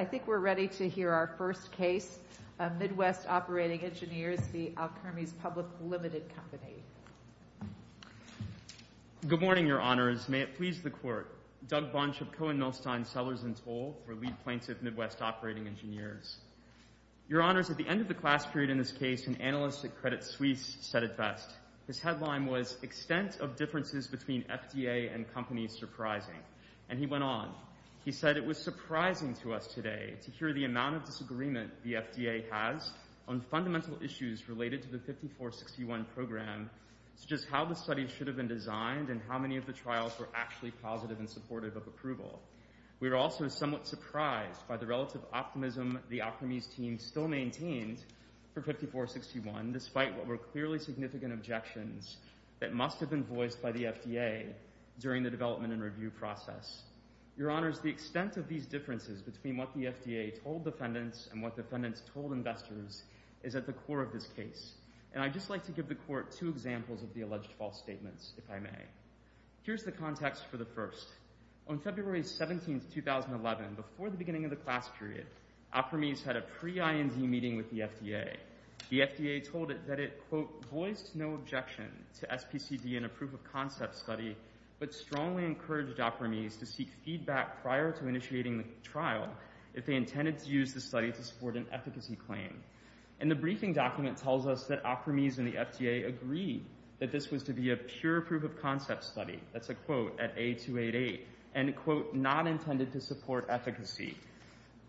I think we're ready to hear our first case, Midwest Operating Engineers v. Alkermes Public Limited Company. Good morning, Your Honors. May it please the Court, Doug Bonship Cohen Nolstein, Sellers & Toll for Lead Plaintiff Midwest Operating Engineers. Your Honors, at the end of the class period in this case, an analyst at Credit Suisse said it best. His headline was, Extent of Differences Between FDA and Companies Surprising. And he went on. He said it was surprising to us today to hear the amount of disagreement the FDA has on fundamental issues related to the 5461 program, such as how the study should have been designed and how many of the trials were actually positive and supportive of approval. We were also somewhat surprised by the relative optimism the Alkermes team still maintained for 5461, despite what were clearly significant objections that must have been voiced by the FDA during the development and review process. Your Honors, the extent of these differences between what the FDA told defendants and what defendants told investors is at the core of this case. And I'd just like to give the Court two examples of the alleged false statements, if I may. Here's the context for the first. On February 17, 2011, before the beginning of the class period, Alkermes had a pre-IND meeting with the FDA. The FDA told it that it, quote, voiced no objection to SPCD in a proof-of-concept study, but strongly encouraged Alkermes to seek feedback prior to initiating the trial if they intended to use the study to support an efficacy claim. And the briefing document tells us that Alkermes and the FDA agreed that this was to be a pure proof-of-concept study, that's a quote, at A288, and a quote, not intended to support efficacy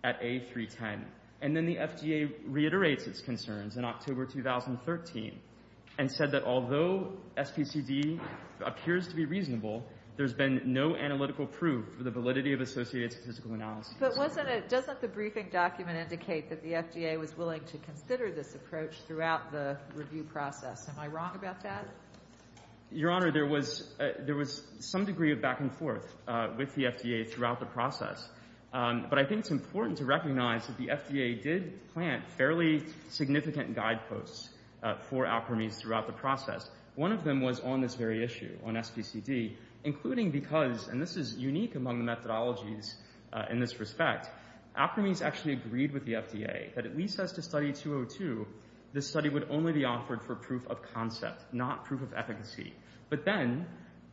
at A310. And then the FDA reiterates its concerns in October 2013 and said that although SPCD appears to be reasonable, there's been no analytical proof for the validity of associated statistical analysis. But wasn't it — doesn't the briefing document indicate that the FDA was willing to consider this approach throughout the review process? Am I wrong about that? Your Honor, there was some degree of back and forth with the FDA throughout the process. But I think it's important to recognize that the FDA did plant fairly significant guideposts for Alkermes throughout the process. One of them was on this very issue, on SPCD, including because — and this is unique among the methodologies in this respect — Alkermes actually agreed with the FDA that at least as to study 202, this study would only be offered for proof-of-concept, not proof-of-efficacy. But then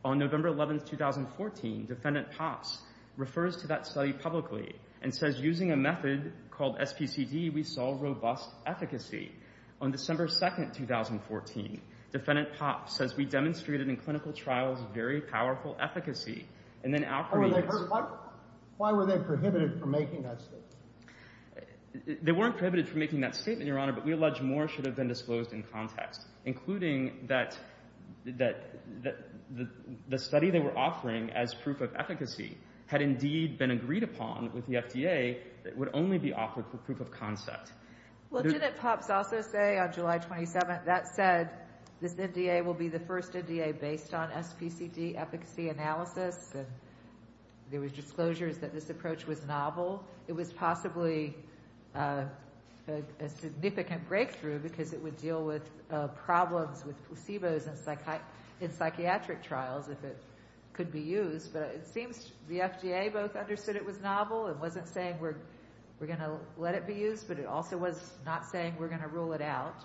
on November 11, 2014, Defendant Pops refers to that study publicly and says using a method called SPCD, we saw robust efficacy. On December 2, 2014, Defendant Pops says we demonstrated in clinical trials very powerful efficacy, and then Alkermes — Why were they prohibited from making that statement? They weren't prohibited from making that statement, Your Honor, but we allege more should have been disclosed in context, including that the study they were offering as proof-of-efficacy had indeed been agreed upon with the FDA that it would only be offered for proof-of-concept. Well, Defendant Pops also say on July 27, that said, this NDA will be the first NDA based on SPCD efficacy analysis, and there were disclosures that this approach was novel. It was possibly a significant breakthrough because it would deal with problems with placebos in psychiatric trials if it could be used, but it seems the FDA both understood it was not saying we're going to rule it out,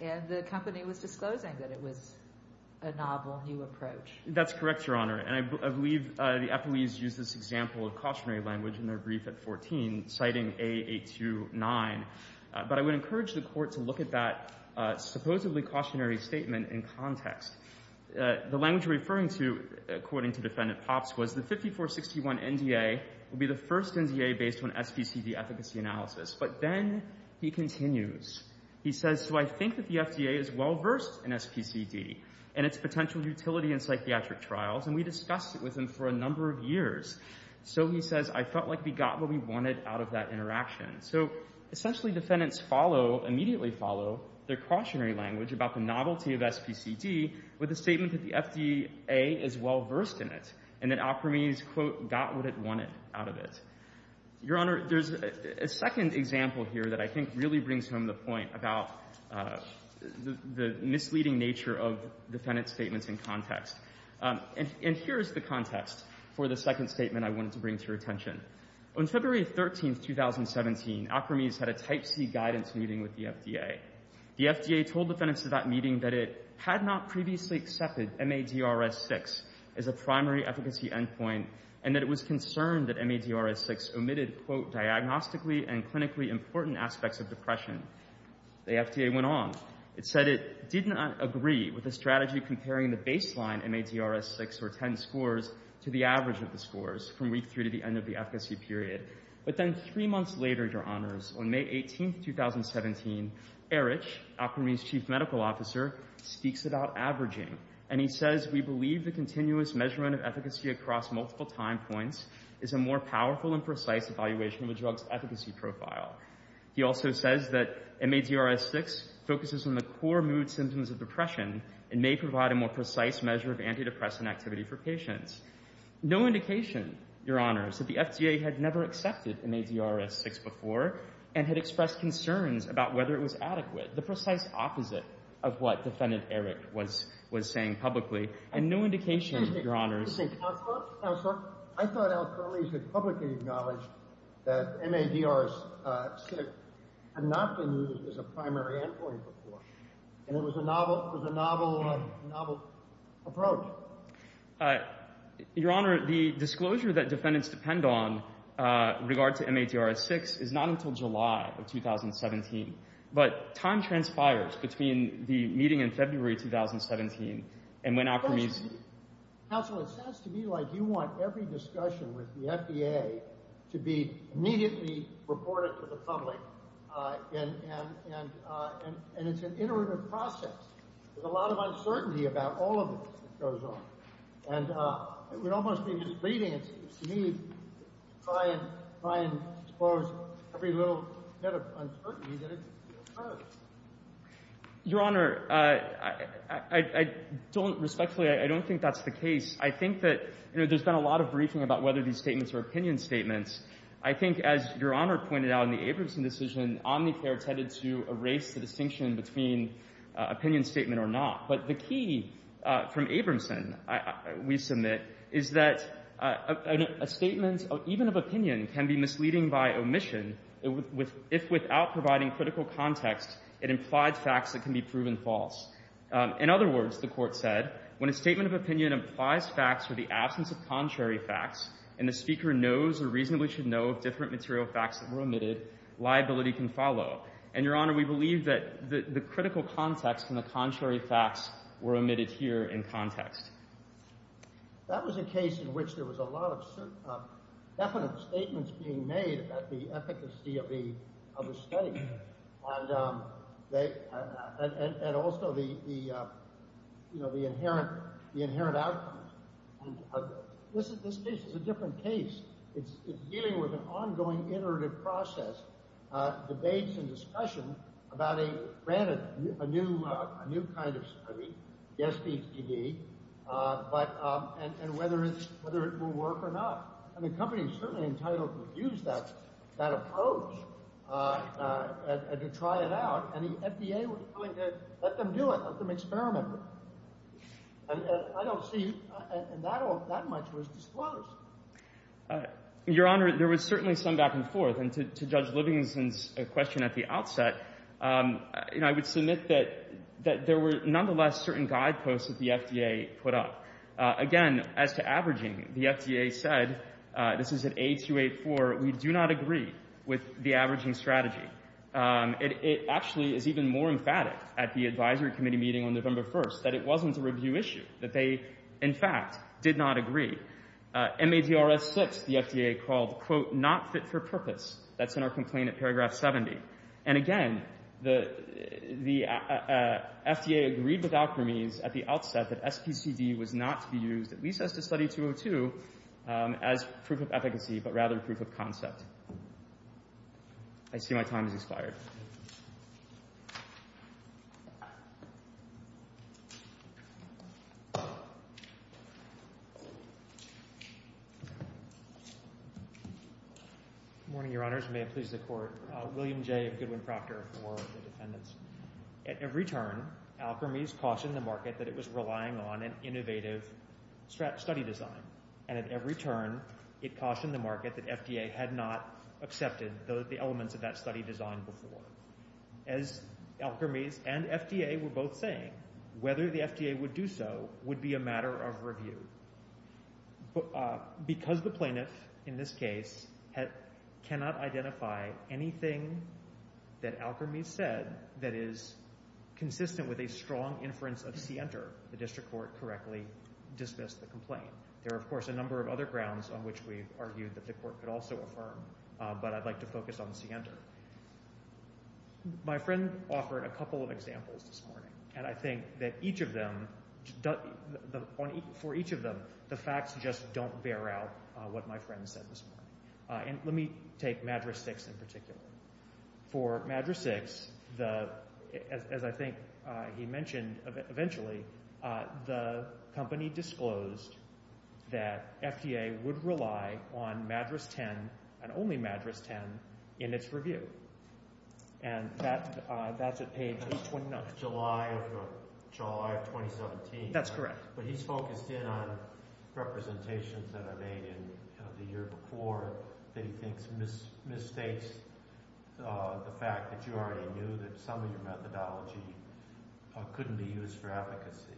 and the company was disclosing that it was a novel new approach. That's correct, Your Honor, and I believe the FOEs used this example of cautionary language in their brief at 14, citing A829, but I would encourage the Court to look at that supposedly cautionary statement in context. The language referring to, according to Defendant Pops, was the 5461 NDA will be the first NDA based on SPCD efficacy analysis, but then he continues. He says, so I think that the FDA is well-versed in SPCD and its potential utility in psychiatric trials, and we discussed it with him for a number of years. So he says, I felt like we got what we wanted out of that interaction. So essentially, defendants follow, immediately follow, their cautionary language about the novelty of SPCD with the statement that the FDA is well-versed in it, and that Alper means, quote, got what it wanted out of it. Your Honor, there's a second example here that I think really brings home the point about the misleading nature of defendant statements in context. And here is the context for the second statement I wanted to bring to your attention. On February 13, 2017, Alper means had a Type C guidance meeting with the FDA. The FDA told defendants at that meeting that it had not previously accepted MADRS-6 as a primary efficacy endpoint, and that it was concerned that MADRS-6 omitted, quote, diagnostically and clinically important aspects of depression. The FDA went on. It said it did not agree with the strategy comparing the baseline MADRS-6 or 10 scores to the average of the scores from week three to the end of the efficacy period. But then three months later, Your Honors, on May 18, 2017, Erich, Alper means' chief medical officer, speaks about averaging. And he says, we believe the continuous measurement of efficacy across multiple time points is a more powerful and precise evaluation of a drug's efficacy profile. He also says that MADRS-6 focuses on the core mood symptoms of depression and may provide a more precise measure of antidepressant activity for patients. No indication, Your Honors, that the FDA had never accepted MADRS-6 before and had expressed concerns about whether it was adequate, the precise opposite of what Defendant Erich was saying publicly. And no indication, Your Honors. Excuse me. Counselor? Counselor? I thought Alper at least had publicly acknowledged that MADRS-6 had not been used as a primary endpoint before. And it was a novel approach. Your Honor, the disclosure that defendants depend on in regard to MADRS-6 is not until July of 2017. But time transpires between the meeting in February 2017 and when Alper meets. Counsel, it sounds to me like you want every discussion with the FDA to be immediately reported to the public. And it's an iterative process. There's a lot of uncertainty about all of this that goes on. And it would almost be misleading to me to try and disclose every little detail that goes on. I don't think that's the case. I think that, you know, there's been a lot of briefing about whether these statements are opinion statements. I think, as Your Honor pointed out in the Abramson decision, Omnicare tended to erase the distinction between opinion statement or not. But the key from Abramson, we submit, is that a statement, even of opinion, can be misleading by omission. If without providing critical context, it implies facts that can be proven false. In other words, the Court said, when a statement of opinion implies facts or the absence of contrary facts, and the speaker knows or reasonably should know of different material facts that were omitted, liability can follow. And Your Honor, we believe that the critical context and the contrary facts were omitted here in context. That was a case in which there was a lot of definite statements being made about the efficacy of a study, and also the inherent outcome. This case is a different case. It's dealing with an ongoing iterative process, debates and discussion about a new kind of test study, the SBTD, and whether it will work or not. And the company is certainly entitled to use that approach to try it out. And the FDA was willing to let them do it, let them experiment with it. And I don't see, and that much was disclosed. Your Honor, there was certainly some back and forth. And to Judge Livingston's question at the outset, I would submit that there were, nonetheless, certain guideposts that the FDA put up. Again, as to averaging, the FDA said, this is at A284, we do not agree with the averaging strategy. It actually is even more emphatic at the advisory committee meeting on November 1st, that it wasn't a review issue, that they, in fact, did not agree. MAGRS 6, the FDA called, quote, not fit for purpose. That's in our complaint at paragraph 70. And again, the FDA agreed with Alkermes at the outset that SBTD was not to be used, at least as to study 202, as proof of efficacy, but rather proof of concept. I see my time has expired. Good morning, Your Honors. May it please the Court. William J. of Goodwin-Proctor for the defendants. At every turn, Alkermes cautioned the market that it was relying on an innovative study design. And at every turn, it cautioned the market that FDA had not accepted the elements of that study design before. As Alkermes and FDA were both saying, whether the FDA would do so would be a matter of review. Because the plaintiff, in this case, cannot identify anything that Alkermes said that is consistent with a strong inference of Sienter, the district court correctly dismissed the complaint. There are, of course, a number of other grounds on which we've argued that the My friend offered a couple of examples this morning. And I think that each of them, for each of them, the facts just don't bear out what my friend said this morning. And let me take Madras 6 in particular. For Madras 6, as I think he mentioned eventually, the company disclosed that And that's at page 829. July of 2017. That's correct. But he's focused in on representations that are made in the year before that he thinks misstates the fact that you already knew that some of your methodology couldn't be used for efficacy.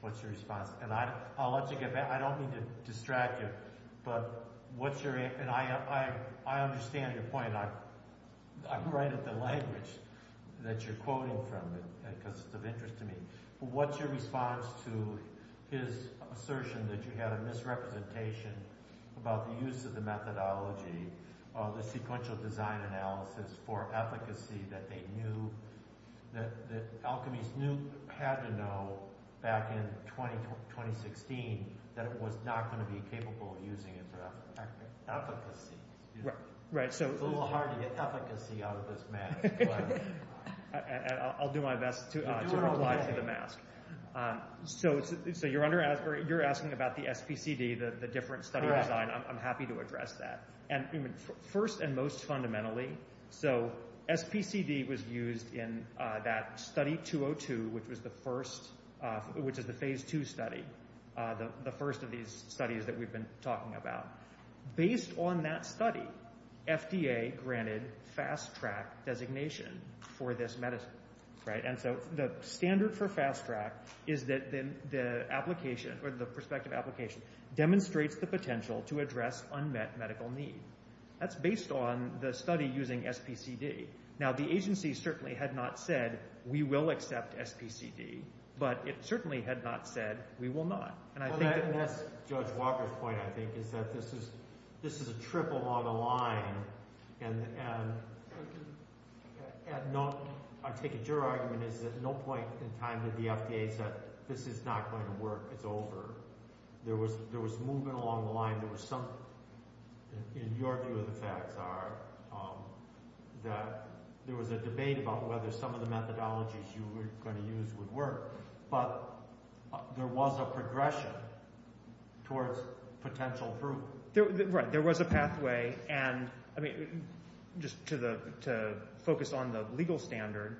What's your response? And I'll let you get back. I don't mean to distract you. But what's your – and I understand your point. I'm right at the language that you're quoting from because it's of interest to me. But what's your response to his assertion that you had a misrepresentation about the use of the methodology, the sequential design analysis for efficacy that they knew – that Alkermes knew – had to know back in 2016 that it was not going to be capable of using it for efficacy? It's a little hard to get efficacy out of this mask. I'll do my best to reply to the mask. So you're asking about the SPCD, the different study design. I'm happy to address that. First and most fundamentally, so SPCD was used in that study 202, which is the Phase II study, the first of these studies that we've been talking about. Based on that study, FDA granted Fast-Track designation for this medicine. And so the standard for Fast-Track is that the application or the prospective application demonstrates the potential to address unmet medical need. That's based on the study using SPCD. Now, the agency certainly had not said, we will accept SPCD, but it certainly had not said, we will not. That's Judge Walker's point, I think, is that this is a trip along the line. And I take it your argument is that no point in time did the FDA say, this is not going to work, it's over. There was movement along the line. In your view of the facts are that there was a debate about whether some of the methodologies you were going to use would work, but there was a progression towards potential approval. Right, there was a pathway. And just to focus on the legal standard,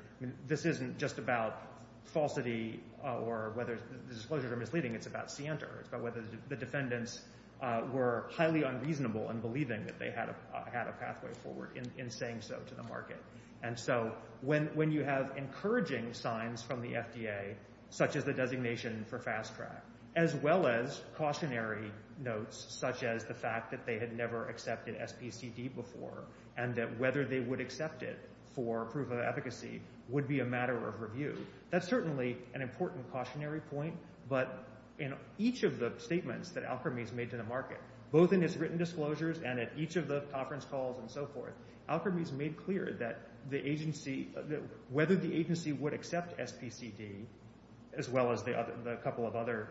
this isn't just about falsity or whether the disclosures are misleading, it's about scienter. It's about whether the defendants were highly unreasonable in believing that they had a pathway forward in saying so to the market. And so when you have encouraging signs from the FDA, such as the designation for Fast-Track, as well as cautionary notes, such as the fact that they had never accepted SPCD before and that whether they would accept it for proof of efficacy would be a matter of review, that's certainly an important cautionary point. But in each of the statements that Alkermes made to the market, both in its written disclosures and at each of the conference calls and so forth, Alkermes made clear that whether the agency would accept SPCD, as well as the couple of other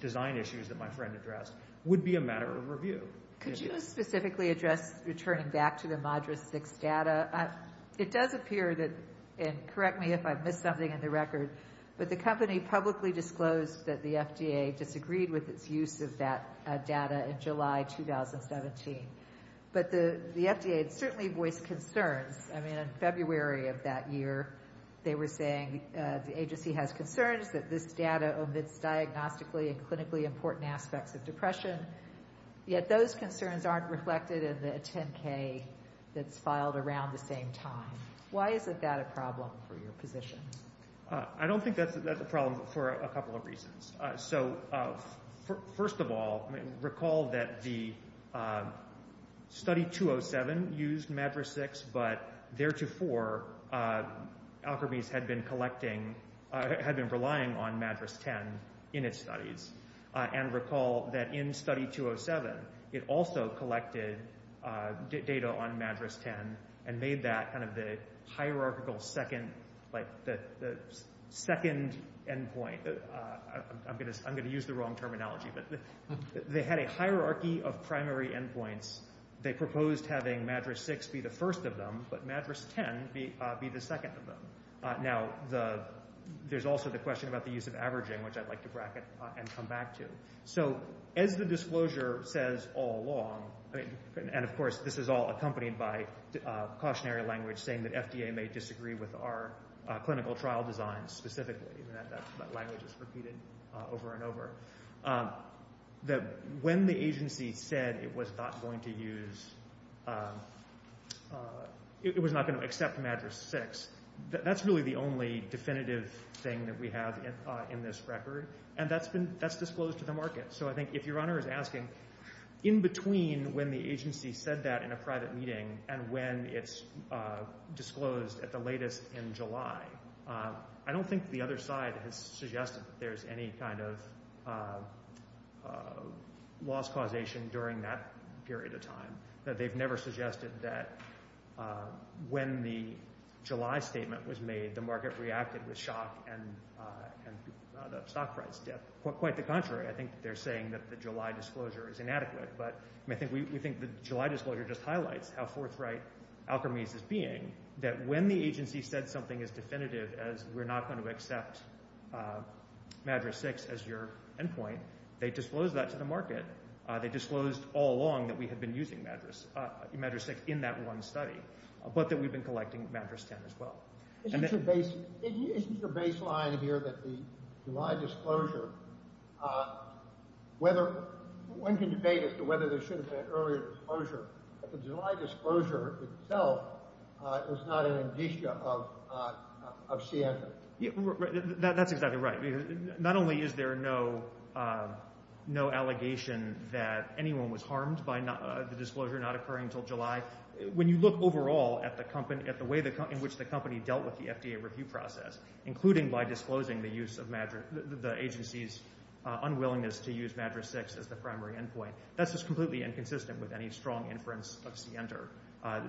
design issues that my friend addressed, would be a matter of review. Could you specifically address returning back to the Modris 6 data? It does appear that, and correct me if I've missed something in the record, but the company publicly disclosed that the FDA disagreed with its use of that data in July 2017. But the FDA certainly voiced concerns. I mean, in February of that year, they were saying the agency has concerns that this data omits diagnostically and clinically important aspects of depression, yet those concerns aren't reflected in the 10-K that's filed around the same time. Why is that a problem for your position? I don't think that's a problem for a couple of reasons. So first of all, recall that the study 207 used Modris 6, but theretofore Alkermes had been relying on Modris 10 in its studies. And recall that in study 207, it also collected data on Modris 10 and made that kind of the hierarchical second endpoint. I'm going to use the wrong terminology, but they had a hierarchy of primary endpoints. They proposed having Modris 6 be the first of them, but Modris 10 be the second of them. Now, there's also the question about the use of averaging, which I'd like to bracket and come back to. So as the disclosure says all along, and of course this is all accompanied by cautionary language saying that FDA may disagree with our clinical trial design specifically, that language is repeated over and over, that when the agency said it was not going to use, it was not going to accept Modris 6, that's really the only definitive thing that we have in this record, and that's disclosed to the market. So I think if your Honor is asking, in between when the agency said that in a private meeting and when it's disclosed at the latest in July, I don't think the other side has suggested that there's any kind of loss causation during that period of time, that they've never suggested that when the July statement was made, the market reacted with shock and the stock price dip. Quite the contrary, I think they're saying that the July disclosure is inadequate, but we think the July disclosure just highlights how forthright Alkermes is being, that when the agency said something as definitive as we're not going to accept Modris 6 as your endpoint, they disclosed that to the market. They disclosed all along that we had been using Modris 6 in that one study, but that we've been collecting Modris 10 as well. Isn't your baseline here that the July disclosure, whether one can debate as to whether there should have been an earlier disclosure, but the July disclosure itself is not an indicia of CSA? That's exactly right. Not only is there no allegation that anyone was harmed by the disclosure not occurring until July, when you look overall at the way in which the company dealt with the FDA review process, including by disclosing the agency's unwillingness to use Modris 6 as the primary endpoint, that's just completely inconsistent with any strong inference of Center.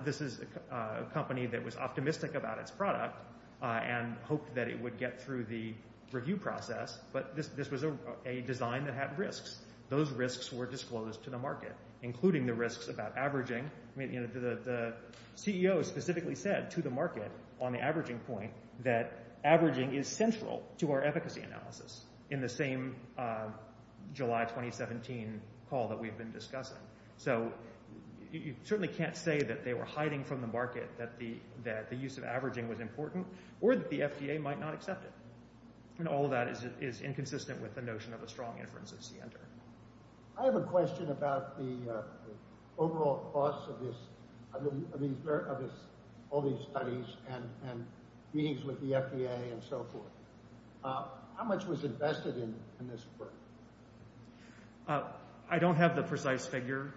This is a company that was optimistic about its product and hoped that it would get through the review process, but this was a design that had risks. Those risks were disclosed to the market, including the risks about averaging. The CEO specifically said to the market on the averaging point that averaging is central to our efficacy analysis in the same July 2017 call that we've been discussing. So you certainly can't say that they were hiding from the market that the use of averaging was important or that the FDA might not accept it. All of that is inconsistent with the notion of a strong inference of Center. I have a question about the overall cost of all these studies and meetings with the FDA and so forth. How much was invested in this work? I don't have the precise figure,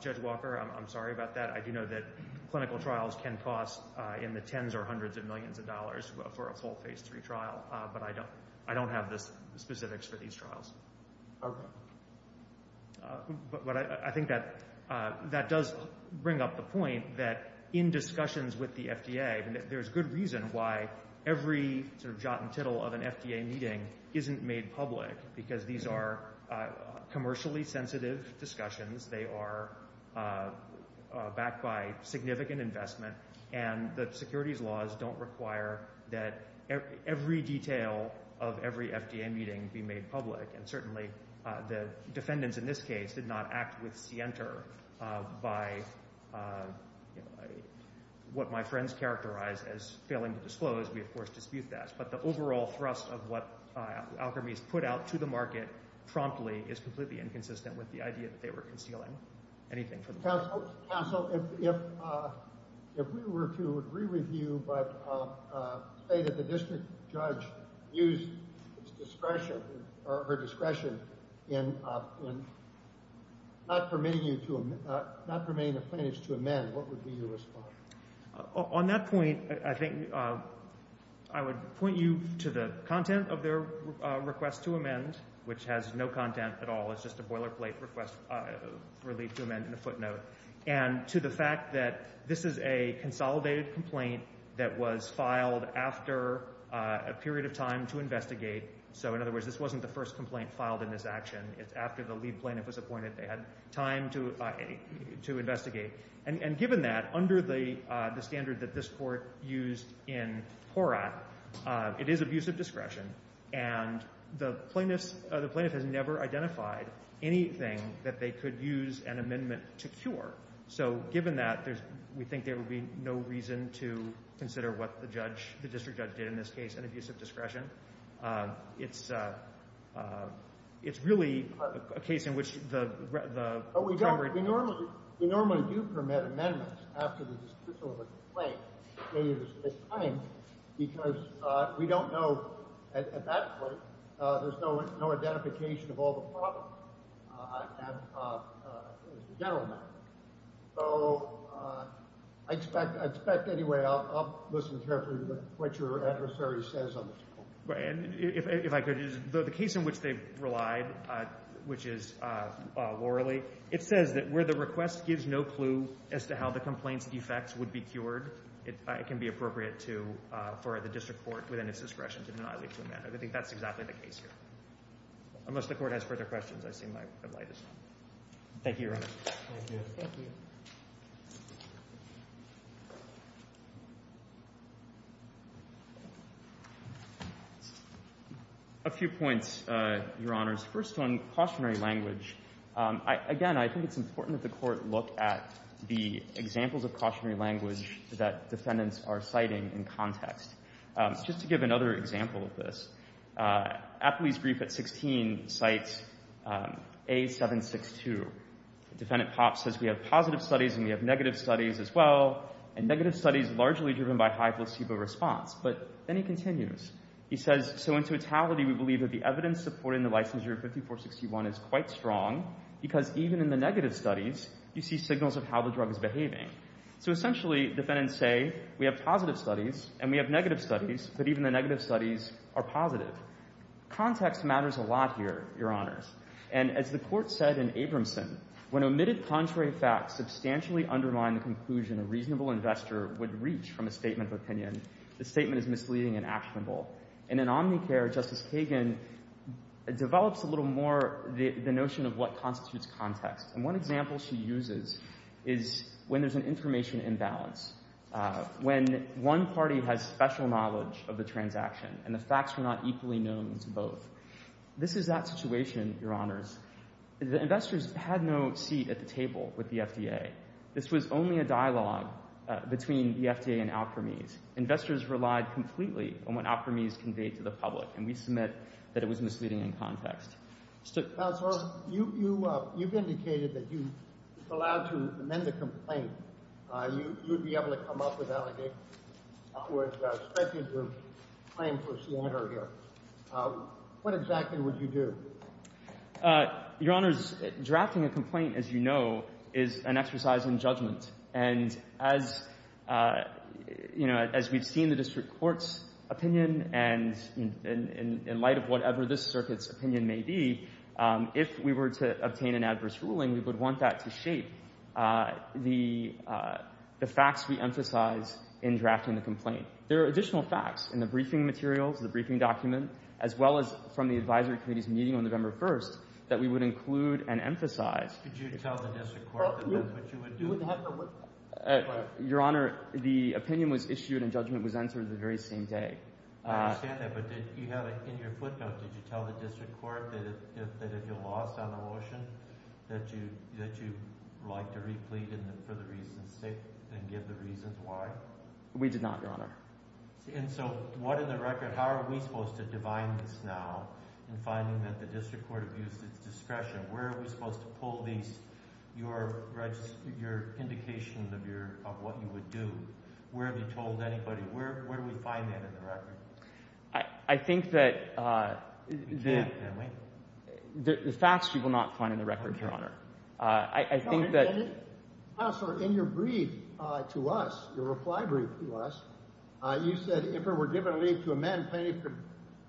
Judge Walker. I'm sorry about that. I do know that clinical trials can cost in the tens or hundreds of millions of dollars for a full Phase III trial, but I don't have the specifics for these trials. But I think that does bring up the point that in discussions with the FDA, there's good reason why every sort of jot and tittle of an FDA meeting isn't made public, because these are commercially sensitive discussions. They are backed by significant investment, and the securities laws don't require that every detail of every FDA meeting be made public. And certainly the defendants in this case did not act with Center by what my friends characterize as failing to disclose. We, of course, dispute that. But the overall thrust of what Alkermes put out to the market promptly is completely inconsistent with the idea that they were concealing anything from the market. Counsel, if we were to agree with you but say that the district judge used his discretion or her discretion in not permitting the plaintiffs to amend, what would be your response? On that point, I think I would point you to the content of their request to amend, which has no content at all. It's just a boilerplate request for a leave to amend and a footnote. And to the fact that this is a consolidated complaint that was filed after a period of time to investigate. So, in other words, this wasn't the first complaint filed in this action. It's after the lead plaintiff was appointed. They had time to investigate. And given that, under the standard that this court used in Porat, it is abuse of discretion. And the plaintiffs – the plaintiff has never identified anything that they could use an amendment to cure. So, given that, there's – we think there would be no reason to consider what the judge – the district judge did in this case, an abuse of discretion. It's – it's really a case in which the primary – But we don't – we normally – we normally do permit amendments after the district At that point, there's no identification of all the problems as a general matter. So, I expect – I expect – anyway, I'll listen carefully to what your adversary says on this point. If I could, the case in which they relied, which is Loralee, it says that where the request gives no clue as to how the complaint's defects would be cured, it can be appropriate to – for the district court, within its discretion, to not leave to amend. I think that's exactly the case here. Unless the court has further questions, I see my light is out. Thank you, Your Honor. Thank you. Thank you. A few points, Your Honors. First one, cautionary language. Again, I think it's important that the court look at the examples of cautionary language that defendants are citing in context. Just to give another example of this, Apley's brief at 16 cites A762. Defendant Popp says we have positive studies and we have negative studies as well, and negative studies largely driven by high placebo response. But then he continues. He says, so in totality, we believe that the evidence supporting the licensure of 5461 is quite strong because even in the negative studies, you see signals of how the drug is behaving. So essentially, defendants say we have positive studies and we have negative studies, but even the negative studies are positive. Context matters a lot here, Your Honors. And as the court said in Abramson, when omitted contrary facts substantially undermine the conclusion a reasonable investor would reach from a statement of opinion, the statement is misleading and actionable. And in Omnicare, Justice Kagan develops a little more the notion of what constitutes context. And one example she uses is when there's an information imbalance, when one party has special knowledge of the transaction and the facts are not equally known to both. This is that situation, Your Honors. The investors had no seat at the table with the FDA. This was only a dialogue between the FDA and Alkermes. Investors relied completely on what Alkermes conveyed to the public, and we submit that it was misleading in context. Counselor, you've indicated that you are allowed to amend the complaint. You would be able to come up with allegations. In other words, speculate your claim for slander here. What exactly would you do? Your Honors, drafting a complaint, as you know, is an exercise in judgment. And as we've seen the district court's opinion and in light of whatever this circuit's opinion may be, if we were to obtain an adverse ruling, we would want that to shape the facts we emphasize in drafting the complaint. There are additional facts in the briefing materials, the briefing document, as well as from the advisory committee's meeting on November 1st that we would include and emphasize. Could you tell the district court that that's what you would do? Your Honor, the opinion was issued and judgment was answered the very same day. I understand that, but did you have it in your footnote? Did you tell the district court that if you lost on the motion that you would like to replete it for the reasons stated and give the reasons why? We did not, Your Honor. And so what in the record – how are we supposed to divine this now in finding that the district court abused its discretion? Where are we supposed to pull these – your indications of what you would do? Where have you told anybody? Where do we find that in the record? I think that the – We can't, can we? The facts you will not find in the record, Your Honor. I think that – Counselor, in your brief to us, your reply brief to us, you said, if it were given a leave to amend, plenty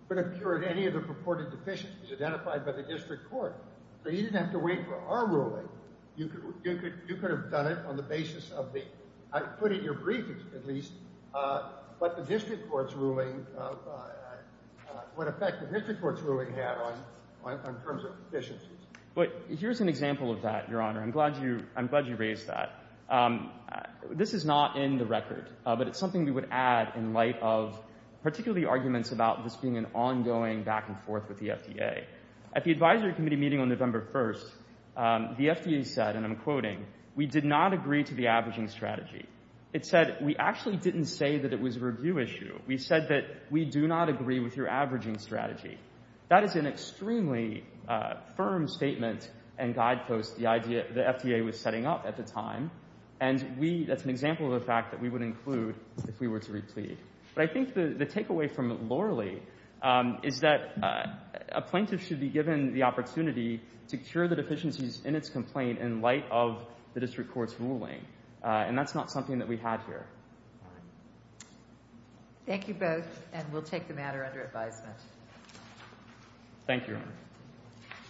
could have cured any of the purported deficiencies identified by the district court. So you didn't have to wait for our ruling. You could have done it on the basis of the – put it in your brief, at least, what the district court's ruling – what effect the district court's ruling had on terms of deficiencies. But here's an example of that, Your Honor. I'm glad you – I'm glad you raised that. This is not in the record, but it's something we would add in light of particularly arguments about this being an ongoing back-and-forth with the FDA. At the advisory committee meeting on November 1st, the FDA said, and I'm quoting, we did not agree to the averaging strategy. It said we actually didn't say that it was a review issue. We said that we do not agree with your averaging strategy. That is an extremely firm statement and guidepost the FDA was setting up at the time, and we – that's an example of a fact that we would include if we were to replead. But I think the takeaway from it, lorally, is that a plaintiff should be given the opportunity to cure the deficiencies in its complaint in light of the district court's ruling, and that's not something that we had here. Thank you both, and we'll take the matter under advisement.